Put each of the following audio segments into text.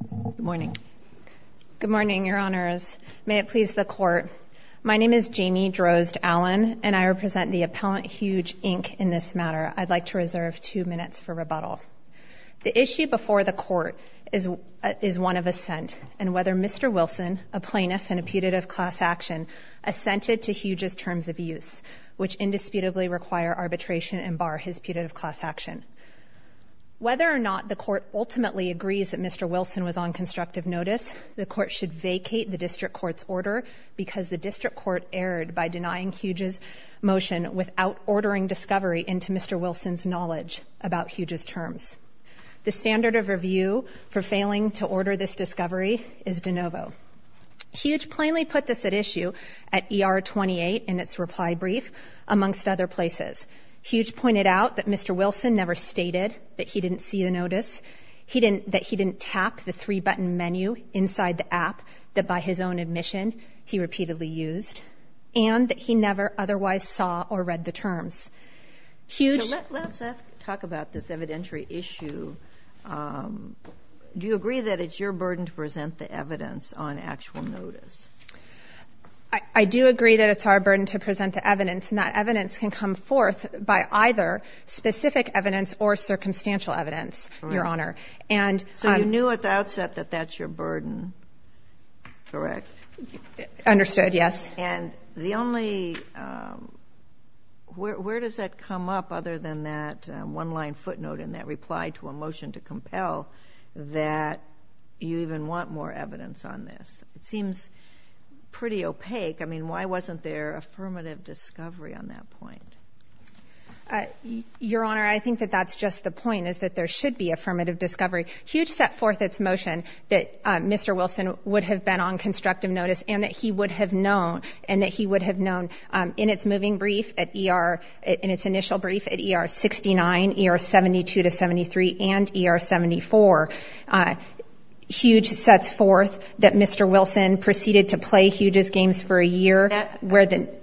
Good morning. Good morning, your honors. May it please the court, my name is Jamie Drozd-Allen and I represent the appellant HUUUGE, Inc. in this matter. I'd like to reserve two minutes for rebuttal. The issue before the court is one of assent and whether Mr. Wilson, a plaintiff and a putative class action, assented to HUUUGE's terms of use, which indisputably require arbitration and bar his putative class action. Whether or not the court ultimately agrees that Mr. Wilson was on constructive notice, the court should vacate the district court's order because the district court erred by denying HUUUGE's motion without ordering discovery into Mr. Wilson's knowledge about HUUUGE's terms. The standard of review for failing to order this discovery is de novo. HUUUGE plainly put this at issue at ER 28 in its reply brief, amongst other places. HUUUGE pointed out that Mr. Wilson never stated that he didn't see the notice. He didn't that he didn't tap the three-button menu inside the app that by his own admission he repeatedly used and that he never otherwise saw or read the terms. Let's talk about this evidentiary issue. Do you agree that it's your burden to present the evidence on actual notice? I do agree that it's our burden to present either specific evidence or circumstantial evidence, Your Honor. So you knew at the outset that that's your burden, correct? Understood, yes. And the only, where does that come up other than that one-line footnote in that reply to a motion to compel that you even want more evidence on this? It seems pretty opaque. I mean, why wasn't there affirmative discovery on that point? Your Honor, I think that that's just the point, is that there should be affirmative discovery. HUUUGE set forth its motion that Mr. Wilson would have been on constructive notice and that he would have known and that he would have known in its moving brief at ER, in its initial brief at ER 69, ER 72 to 73, and ER 74. HUUUGE sets forth that Mr. Wilson proceeded to play HUUUGE's games for a year.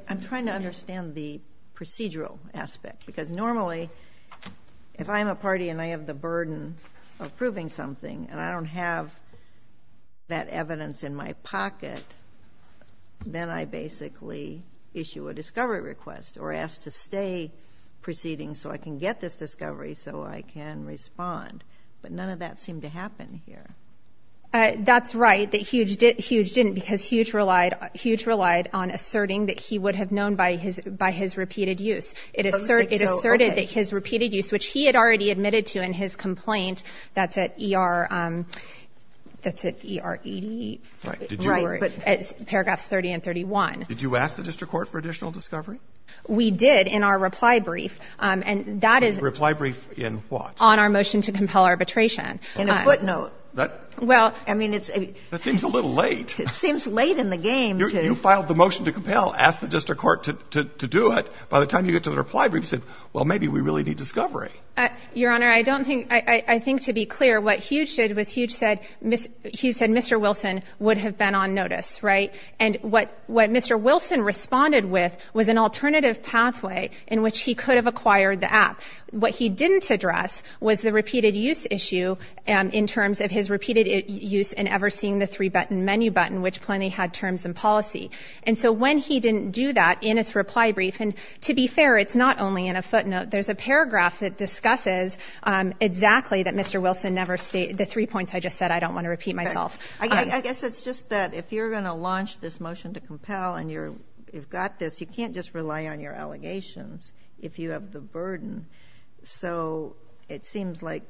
I'm trying to understand the procedural aspect, because normally, if I'm a party and I have the burden of proving something and I don't have that evidence in my pocket, then I basically issue a discovery request or ask to stay proceeding so I can get this discovery so I can respond. But none of that seemed to happen here. That's right, that HUUUGE didn't, because HUUUGE relied, HUUUGE relied on asserting that he would have known by his, by his repeated use. It asserted that his repeated use, which he had already admitted to in his complaint, that's at ER, that's at ER 88. Right. But paragraphs 30 and 31. Did you ask the district court for additional discovery? We did in our reply brief. And that is — Reply brief in what? On our motion to compel arbitration. In a footnote. Well, I mean, it's a — That seems a little late. It seems late in the game to — You filed the motion to compel, asked the district court to do it. By the time you get to the reply brief, you said, well, maybe we really need discovery. Your Honor, I don't think — I think to be clear, what HUUUGE did was HUUUGE said — HUUUGE said Mr. Wilson would have been on notice, right? And what Mr. Wilson responded with was an alternative pathway in which he could have acquired the app. What he didn't address was the repeated use issue in terms of his repeated use and never seeing the three-button menu button, which plainly had terms and policy. And so when he didn't do that in his reply brief — and to be fair, it's not only in a footnote. There's a paragraph that discusses exactly that Mr. Wilson never — the three points I just said I don't want to repeat myself. I guess it's just that if you're going to launch this motion to compel and you've got this, you can't just rely on your allegations if you have the burden. So it seems like,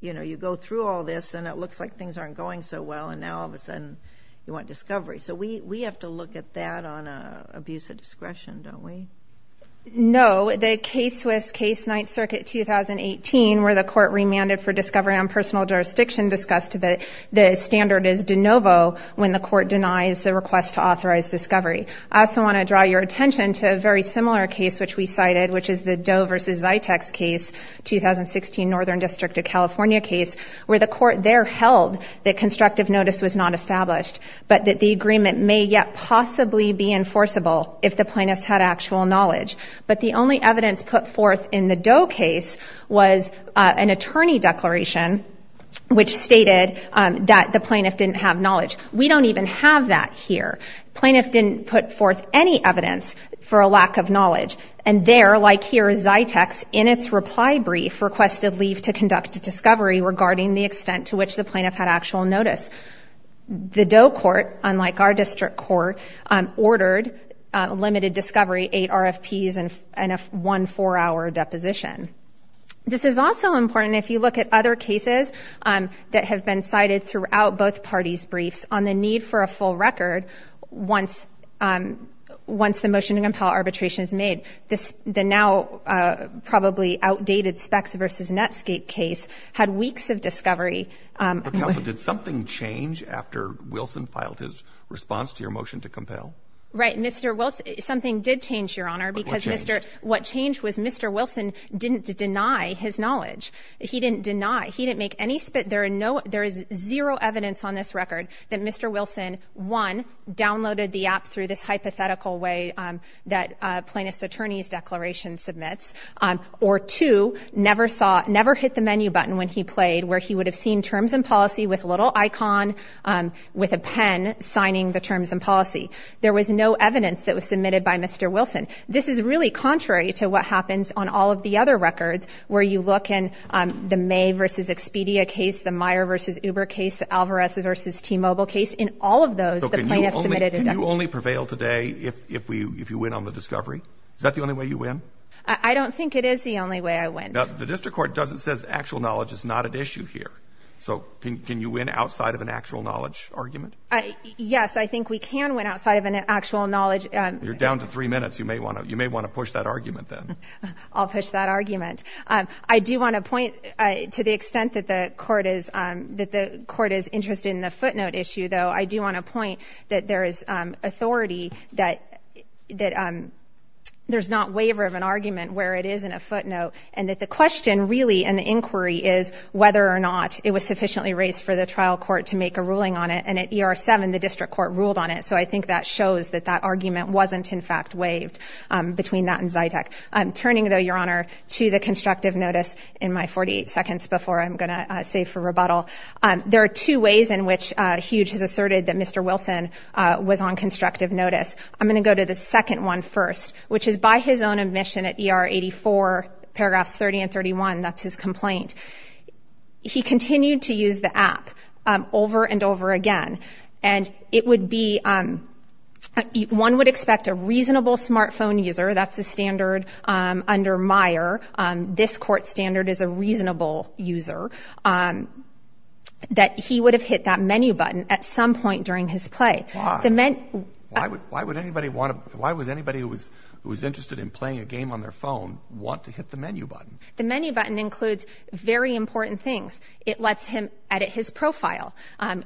you know, you go through all this and it looks like things aren't going so well and now all of a sudden you want discovery. So we have to look at that on abuse of discretion, don't we? No. The case with case Ninth Circuit 2018 where the court remanded for discovery on personal jurisdiction discussed that the standard is de novo when the court denies the request to authorize discovery. I also want to draw your attention to a very similar case which we cited, which is the Doe v. Zyteks case, 2016 Northern District of California case, where the court there held that constructive notice was not established, but that the agreement may yet possibly be enforceable if the plaintiffs had actual knowledge. But the only evidence put forth in the Doe case was an attorney declaration which stated that the plaintiff didn't have knowledge. We don't even have that here. Plaintiff didn't put forth any evidence for a lack of knowledge. And there, like here, Zyteks, in its reply brief, requested leave to conduct a discovery regarding the extent to which the plaintiff had actual notice. The Doe court, unlike our district court, ordered limited discovery, eight RFPs, and one four-hour deposition. This is also important if you look at other cases that have been cited throughout both parties' briefs on the need for a full record once the motion to compel arbitration is made. The now probably outdated Specks v. Netscape case had weeks of discovery. But, Counsel, did something change after Wilson filed his response to your motion to compel? Right. Mr. Wilson — something did change, Your Honor, because Mr. — What changed? What changed was Mr. Wilson didn't deny his knowledge. He didn't deny. He didn't make any — there are no — there is zero evidence on this record that Mr. Wilson, one, downloaded the app through this hypothetical way that a plaintiff's attorney's declaration submits, or two, never saw — never hit the menu button when he played, where he would have seen Terms and Policy with a little icon with a pen signing the Terms and Policy. There was no evidence that was submitted by Mr. Wilson. This is really contrary to what happens on all of the other records, where you look in the May v. Expedia case, the Meyer v. Uber case, the Alvarez v. T-Mobile case. In all of those, the plaintiff submitted a declaration. So can you only prevail today if you win on the discovery? Is that the only way you win? I don't think it is the only way I win. Now, the district court doesn't — says actual knowledge is not at issue here. So can you win outside of an actual knowledge argument? Yes, I think we can win outside of an actual knowledge — You're down to three minutes. You may want to push that argument, then. I'll push that argument. I do want to point — to the extent that the court is — that the court is interested in the footnote issue, though, I do want to point that there is authority that — that there's not waiver of an argument where it is in a footnote, and that the question really and the inquiry is whether or not it was sufficiently raised for the trial court to make a ruling on it. And at ER-7, the district court ruled on it. So I think that shows that that argument wasn't, in fact, waived between that and Zytec. I'm turning, though, Your Honor, to the constructive notice in my 48 seconds before I'm going to save for rebuttal. There are two ways in which Hughes has asserted that Mr. Wilson was on constructive notice. I'm going to go to the second one first, which is by his own admission at ER-84, paragraphs 30 and 31 — that's his complaint — he continued to use the app over and over again. And it would be — one would expect a reasonable smartphone user — that's the standard under Meyer. This court standard is a reasonable user — that he would have hit that menu button at some point during his play. Why? The menu — Why would — why would anybody want to — why would anybody who was — who was interested in playing a game on their phone want to hit the menu button? The menu button includes very important things. It lets him edit his profile,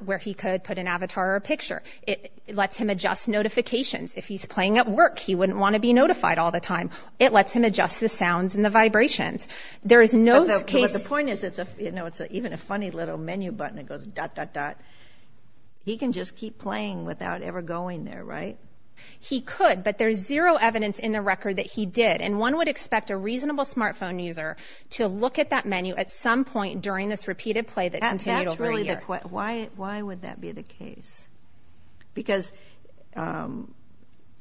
where he could put an avatar or a picture. It lets him adjust notifications. If he's playing at work, he does that all the time. It lets him adjust the sounds and the vibrations. There is no case — But the point is, it's a — you know, it's even a funny little menu button that goes dot, dot, dot. He can just keep playing without ever going there, right? He could, but there's zero evidence in the record that he did. And one would expect a reasonable smartphone user to look at that menu at some point during this repeated play that continued over a year. But why would that be the case? Because do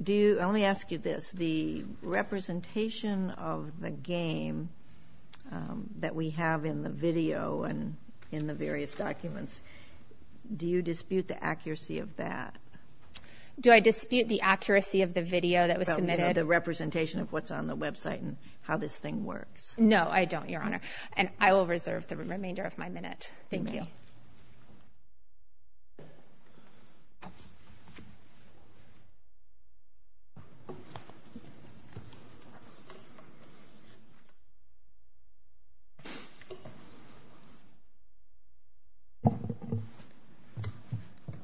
you — let me ask you this. The representation of the game that we have in the video and in the various documents, do you dispute the accuracy of that? Do I dispute the accuracy of the video that was submitted? About, you know, the representation of what's on the website and how this thing works? No, I don't, Your Honor. And I will reserve the remainder of my minute. Thank you.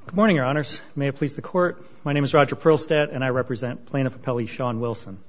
Good morning, Your Honors. May it please the Court. My name is Roger Perlstadt, and I represent Plaintiff Appellee Sean Wilson.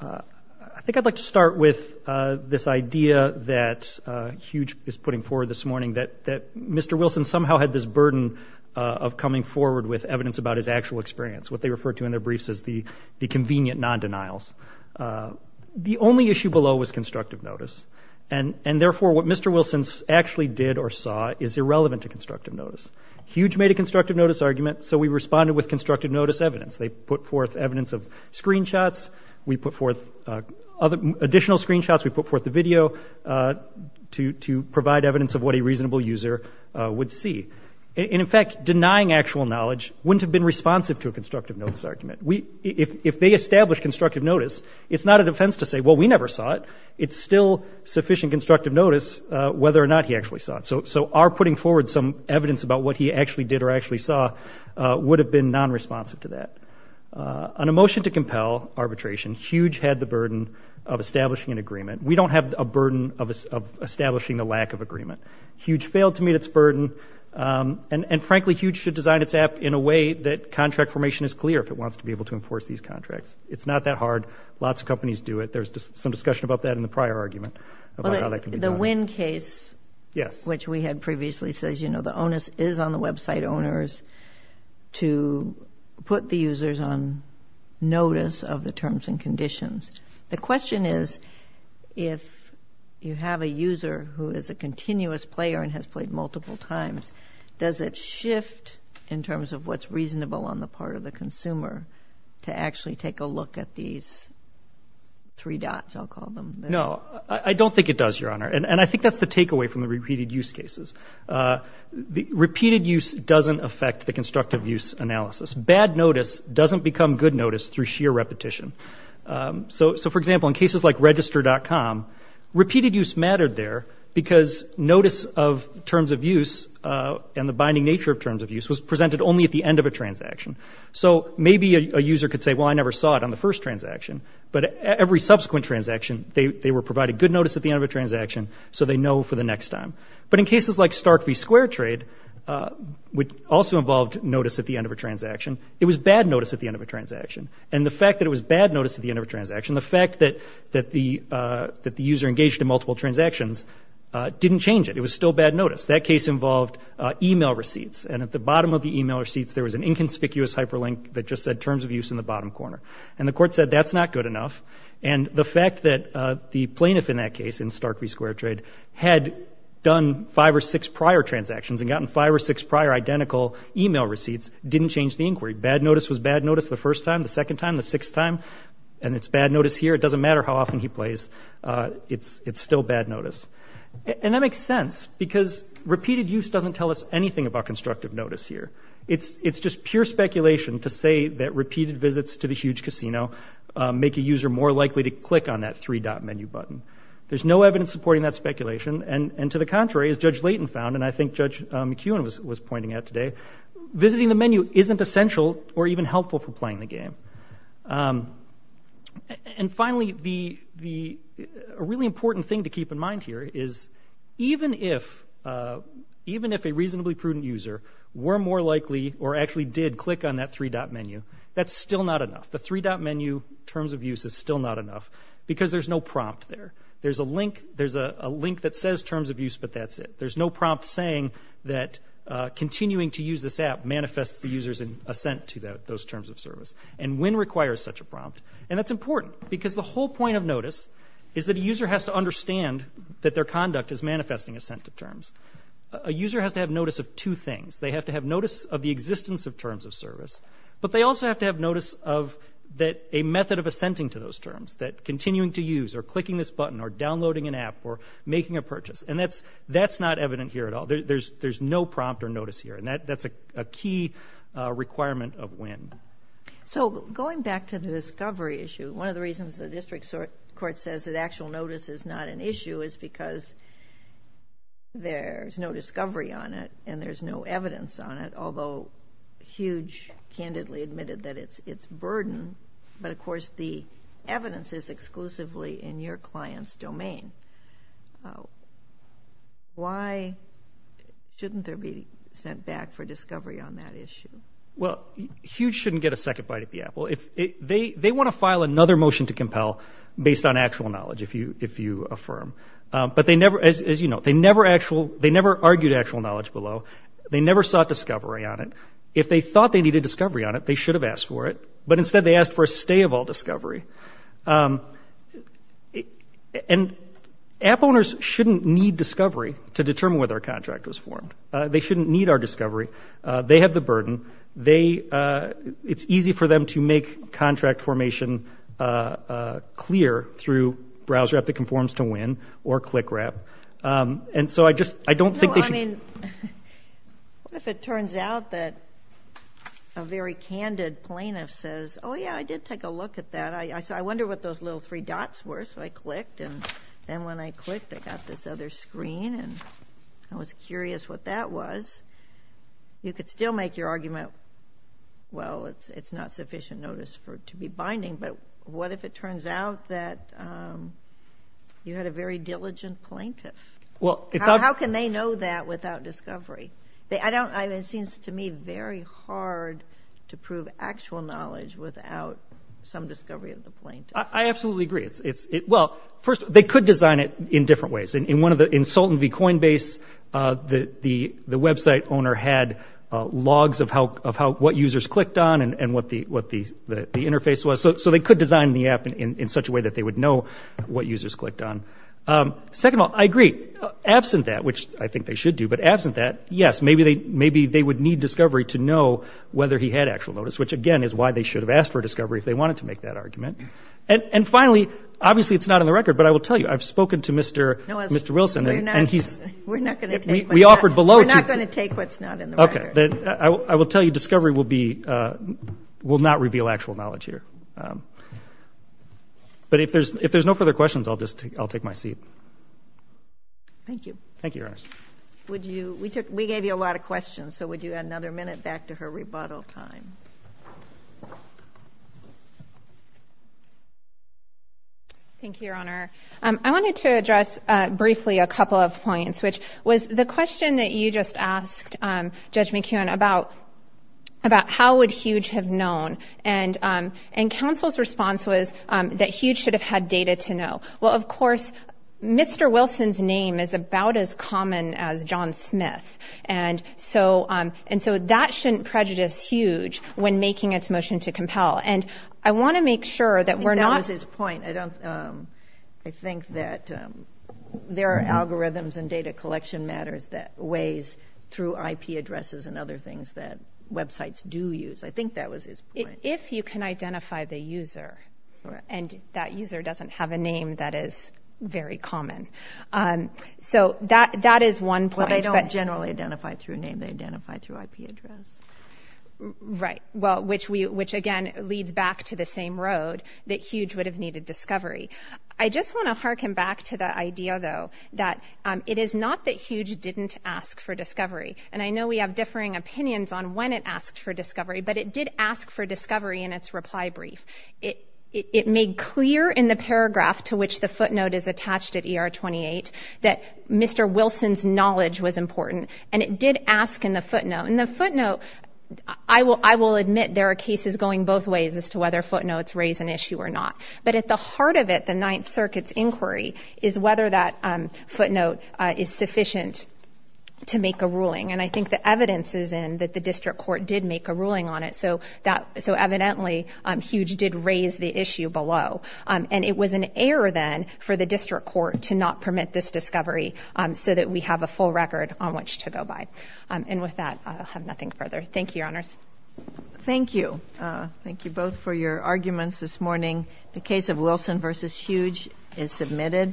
I think I'd like to start with this idea that Hugh is putting forward this morning, that Mr. Wilson somehow had this burden of coming forward with evidence about his actual experience, what they refer to in their briefs as the convenient non-denials. The only issue below was constructive notice. And therefore, what Mr. Wilson actually did or saw is irrelevant to constructive notice. Hugh made a constructive notice argument, so we responded with constructive notice evidence. They put forth evidence of screenshots. We put forth additional screenshots. We put forth the video to provide evidence of what a reasonable user would see. And in fact, denying actual knowledge wouldn't have been responsive to a constructive notice argument. If they established constructive notice, it's not a defense to say, well, we never saw it. It's still sufficient constructive notice whether or not he actually saw it. So our putting forward some evidence about what he actually did or actually saw would have been non-responsive to that. On a motion to compel arbitration, Hugh had the burden of establishing an agreement. We don't have a burden of establishing a lack of agreement. Hugh failed to meet its burden. And frankly, Hugh should design its app in a way that contract formation is clear if it wants to be able to enforce these contracts. It's not that hard. Lots of companies do it. There's some discussion about that in the prior argument about how that can be done. The Wynn case, which we had previously, says the onus is on the website owners to put the If you have a user who is a continuous player and has played multiple times, does it shift in terms of what's reasonable on the part of the consumer to actually take a look at these three dots, I'll call them? No. I don't think it does, Your Honor. And I think that's the takeaway from the repeated use cases. Repeated use doesn't affect the constructive use analysis. Bad notice doesn't become good notice through sheer repetition. So for example, in cases like register.com, repeated use mattered there because notice of terms of use and the binding nature of terms of use was presented only at the end of a transaction. So maybe a user could say, well, I never saw it on the first transaction. But every subsequent transaction, they were provided good notice at the end of a transaction, so they know for the next time. But in cases like Stark v. Square Trade, which also involved notice at the end of a transaction, it was bad notice at the end of a transaction. And the fact that it was bad notice at the end of a transaction, the fact that the user engaged in multiple transactions didn't change it. It was still bad notice. That case involved email receipts. And at the bottom of the email receipts, there was an inconspicuous hyperlink that just said terms of use in the bottom corner. And the court said that's not good enough. And the fact that the plaintiff in that case, in Stark v. Square Trade, had done five or six prior transactions and gotten five or six prior identical email receipts didn't change the inquiry. Bad notice was bad notice the first time, the second time, the sixth time. And it's bad notice here. It doesn't matter how often he plays. It's still bad notice. And that makes sense because repeated use doesn't tell us anything about constructive notice here. It's just pure speculation to say that repeated visits to the huge casino make a user more likely to click on that three-dot menu button. There's no evidence supporting that speculation. And to the contrary, as Judge Layton found, and I think Judge McEwen was pointing out today, visiting the menu isn't essential or even helpful for playing the game. And finally, a really important thing to keep in mind here is even if a reasonably prudent user were more likely or actually did click on that three-dot menu, that's still not enough. The three-dot menu terms of use is still not enough because there's no prompt there. There's a link that says terms of use, but that's it. There's no prompt saying that continuing to use this app manifests the user's assent to those terms of service. And WIN requires such a prompt. And that's important because the whole point of notice is that a user has to understand that their conduct is manifesting assent to terms. A user has to have notice of two things. They have to have notice of the existence of terms of service, but they also have to have notice of a method of assenting to those terms, that continuing to use or downloading an app or making a purchase. And that's not evident here at all. There's no prompt or notice here. And that's a key requirement of WIN. So going back to the discovery issue, one of the reasons the district court says that actual notice is not an issue is because there's no discovery on it and there's no evidence on it, although Hughe candidly admitted that it's burden. But of course, the evidence is in the domain. Why shouldn't there be sent back for discovery on that issue? Well, Hughe shouldn't get a second bite at the apple. They want to file another motion to compel based on actual knowledge, if you affirm. But as you know, they never argued actual knowledge below. They never sought discovery on it. If they thought they needed discovery on it, they should have asked for it. But instead, they asked for a stay of all discovery. And app owners shouldn't need discovery to determine whether a contract was formed. They shouldn't need our discovery. They have the burden. It's easy for them to make contract formation clear through browser app that conforms to WIN or ClickRap. And so I just, I don't think they should. No, I mean, what if it turns out that a very candid plaintiff says, oh yeah, I did take a look at that. So I wonder what those little three dots were. So I clicked. And then when I clicked, I got this other screen. And I was curious what that was. You could still make your argument, well, it's not sufficient notice for it to be binding. But what if it turns out that you had a very diligent plaintiff? How can they know that without discovery? It seems to me very hard to prove actual knowledge without some discovery of the plaintiff. I absolutely agree. Well, first, they could design it in different ways. In one of the, in Sultan v. Coinbase, the website owner had logs of what users clicked on and what the interface was. So they could design the app in such a way that they would know what users clicked on. Second of all, I agree. Absent that, which I think they should do, but absent that, yes, maybe they would need discovery to know whether he had actual notice, which again is why they should have asked for discovery if they wanted to make that argument. And finally, obviously it's not in the record, but I will tell you, I've spoken to Mr. Wilson and he's- We're not going to take what's not- We offered below to- We're not going to take what's not in the record. I will tell you discovery will be, will not reveal actual knowledge here. But if there's Thank you. Thank you, Your Honor. Would you, we took, we gave you a lot of questions, so would you add another minute back to her rebuttal time? Thank you, Your Honor. I wanted to address briefly a couple of points, which was the question that you just asked Judge McKeown about, about how would HUGE have known. And counsel's response was that HUGE should have had data to know. Well, of course, Mr. Wilson's name is about as common as John Smith. And so, and so that shouldn't prejudice HUGE when making its motion to compel. And I want to make sure that we're not- I think that was his point. I don't, I think that there are algorithms and data collection matters that ways through IP addresses and other things that websites do use. I think that was his point. But if you can identify the user, and that user doesn't have a name that is very common. So that, that is one point. Well, they don't generally identify through name. They identify through IP address. Right. Well, which we, which again, leads back to the same road that HUGE would have needed discovery. I just want to hearken back to the idea, though, that it is not that HUGE didn't ask for discovery. And I know we have differing opinions on when it asked for discovery, but it did ask for discovery in its reply brief. It made clear in the paragraph to which the footnote is attached at ER 28 that Mr. Wilson's knowledge was important. And it did ask in the footnote, and the footnote, I will admit there are cases going both ways as to whether footnotes raise an issue or not. But at the heart of it, the Ninth Circuit's inquiry is whether that footnote is sufficient to make a ruling. And I think the evidence is that the District Court did make a ruling on it. So that, so evidently, HUGE did raise the issue below. And it was an error then for the District Court to not permit this discovery so that we have a full record on which to go by. And with that, I'll have nothing further. Thank you, Your Honors. Thank you. Thank you both for your arguments this morning. The case of Wilson v. HUGE is submitted.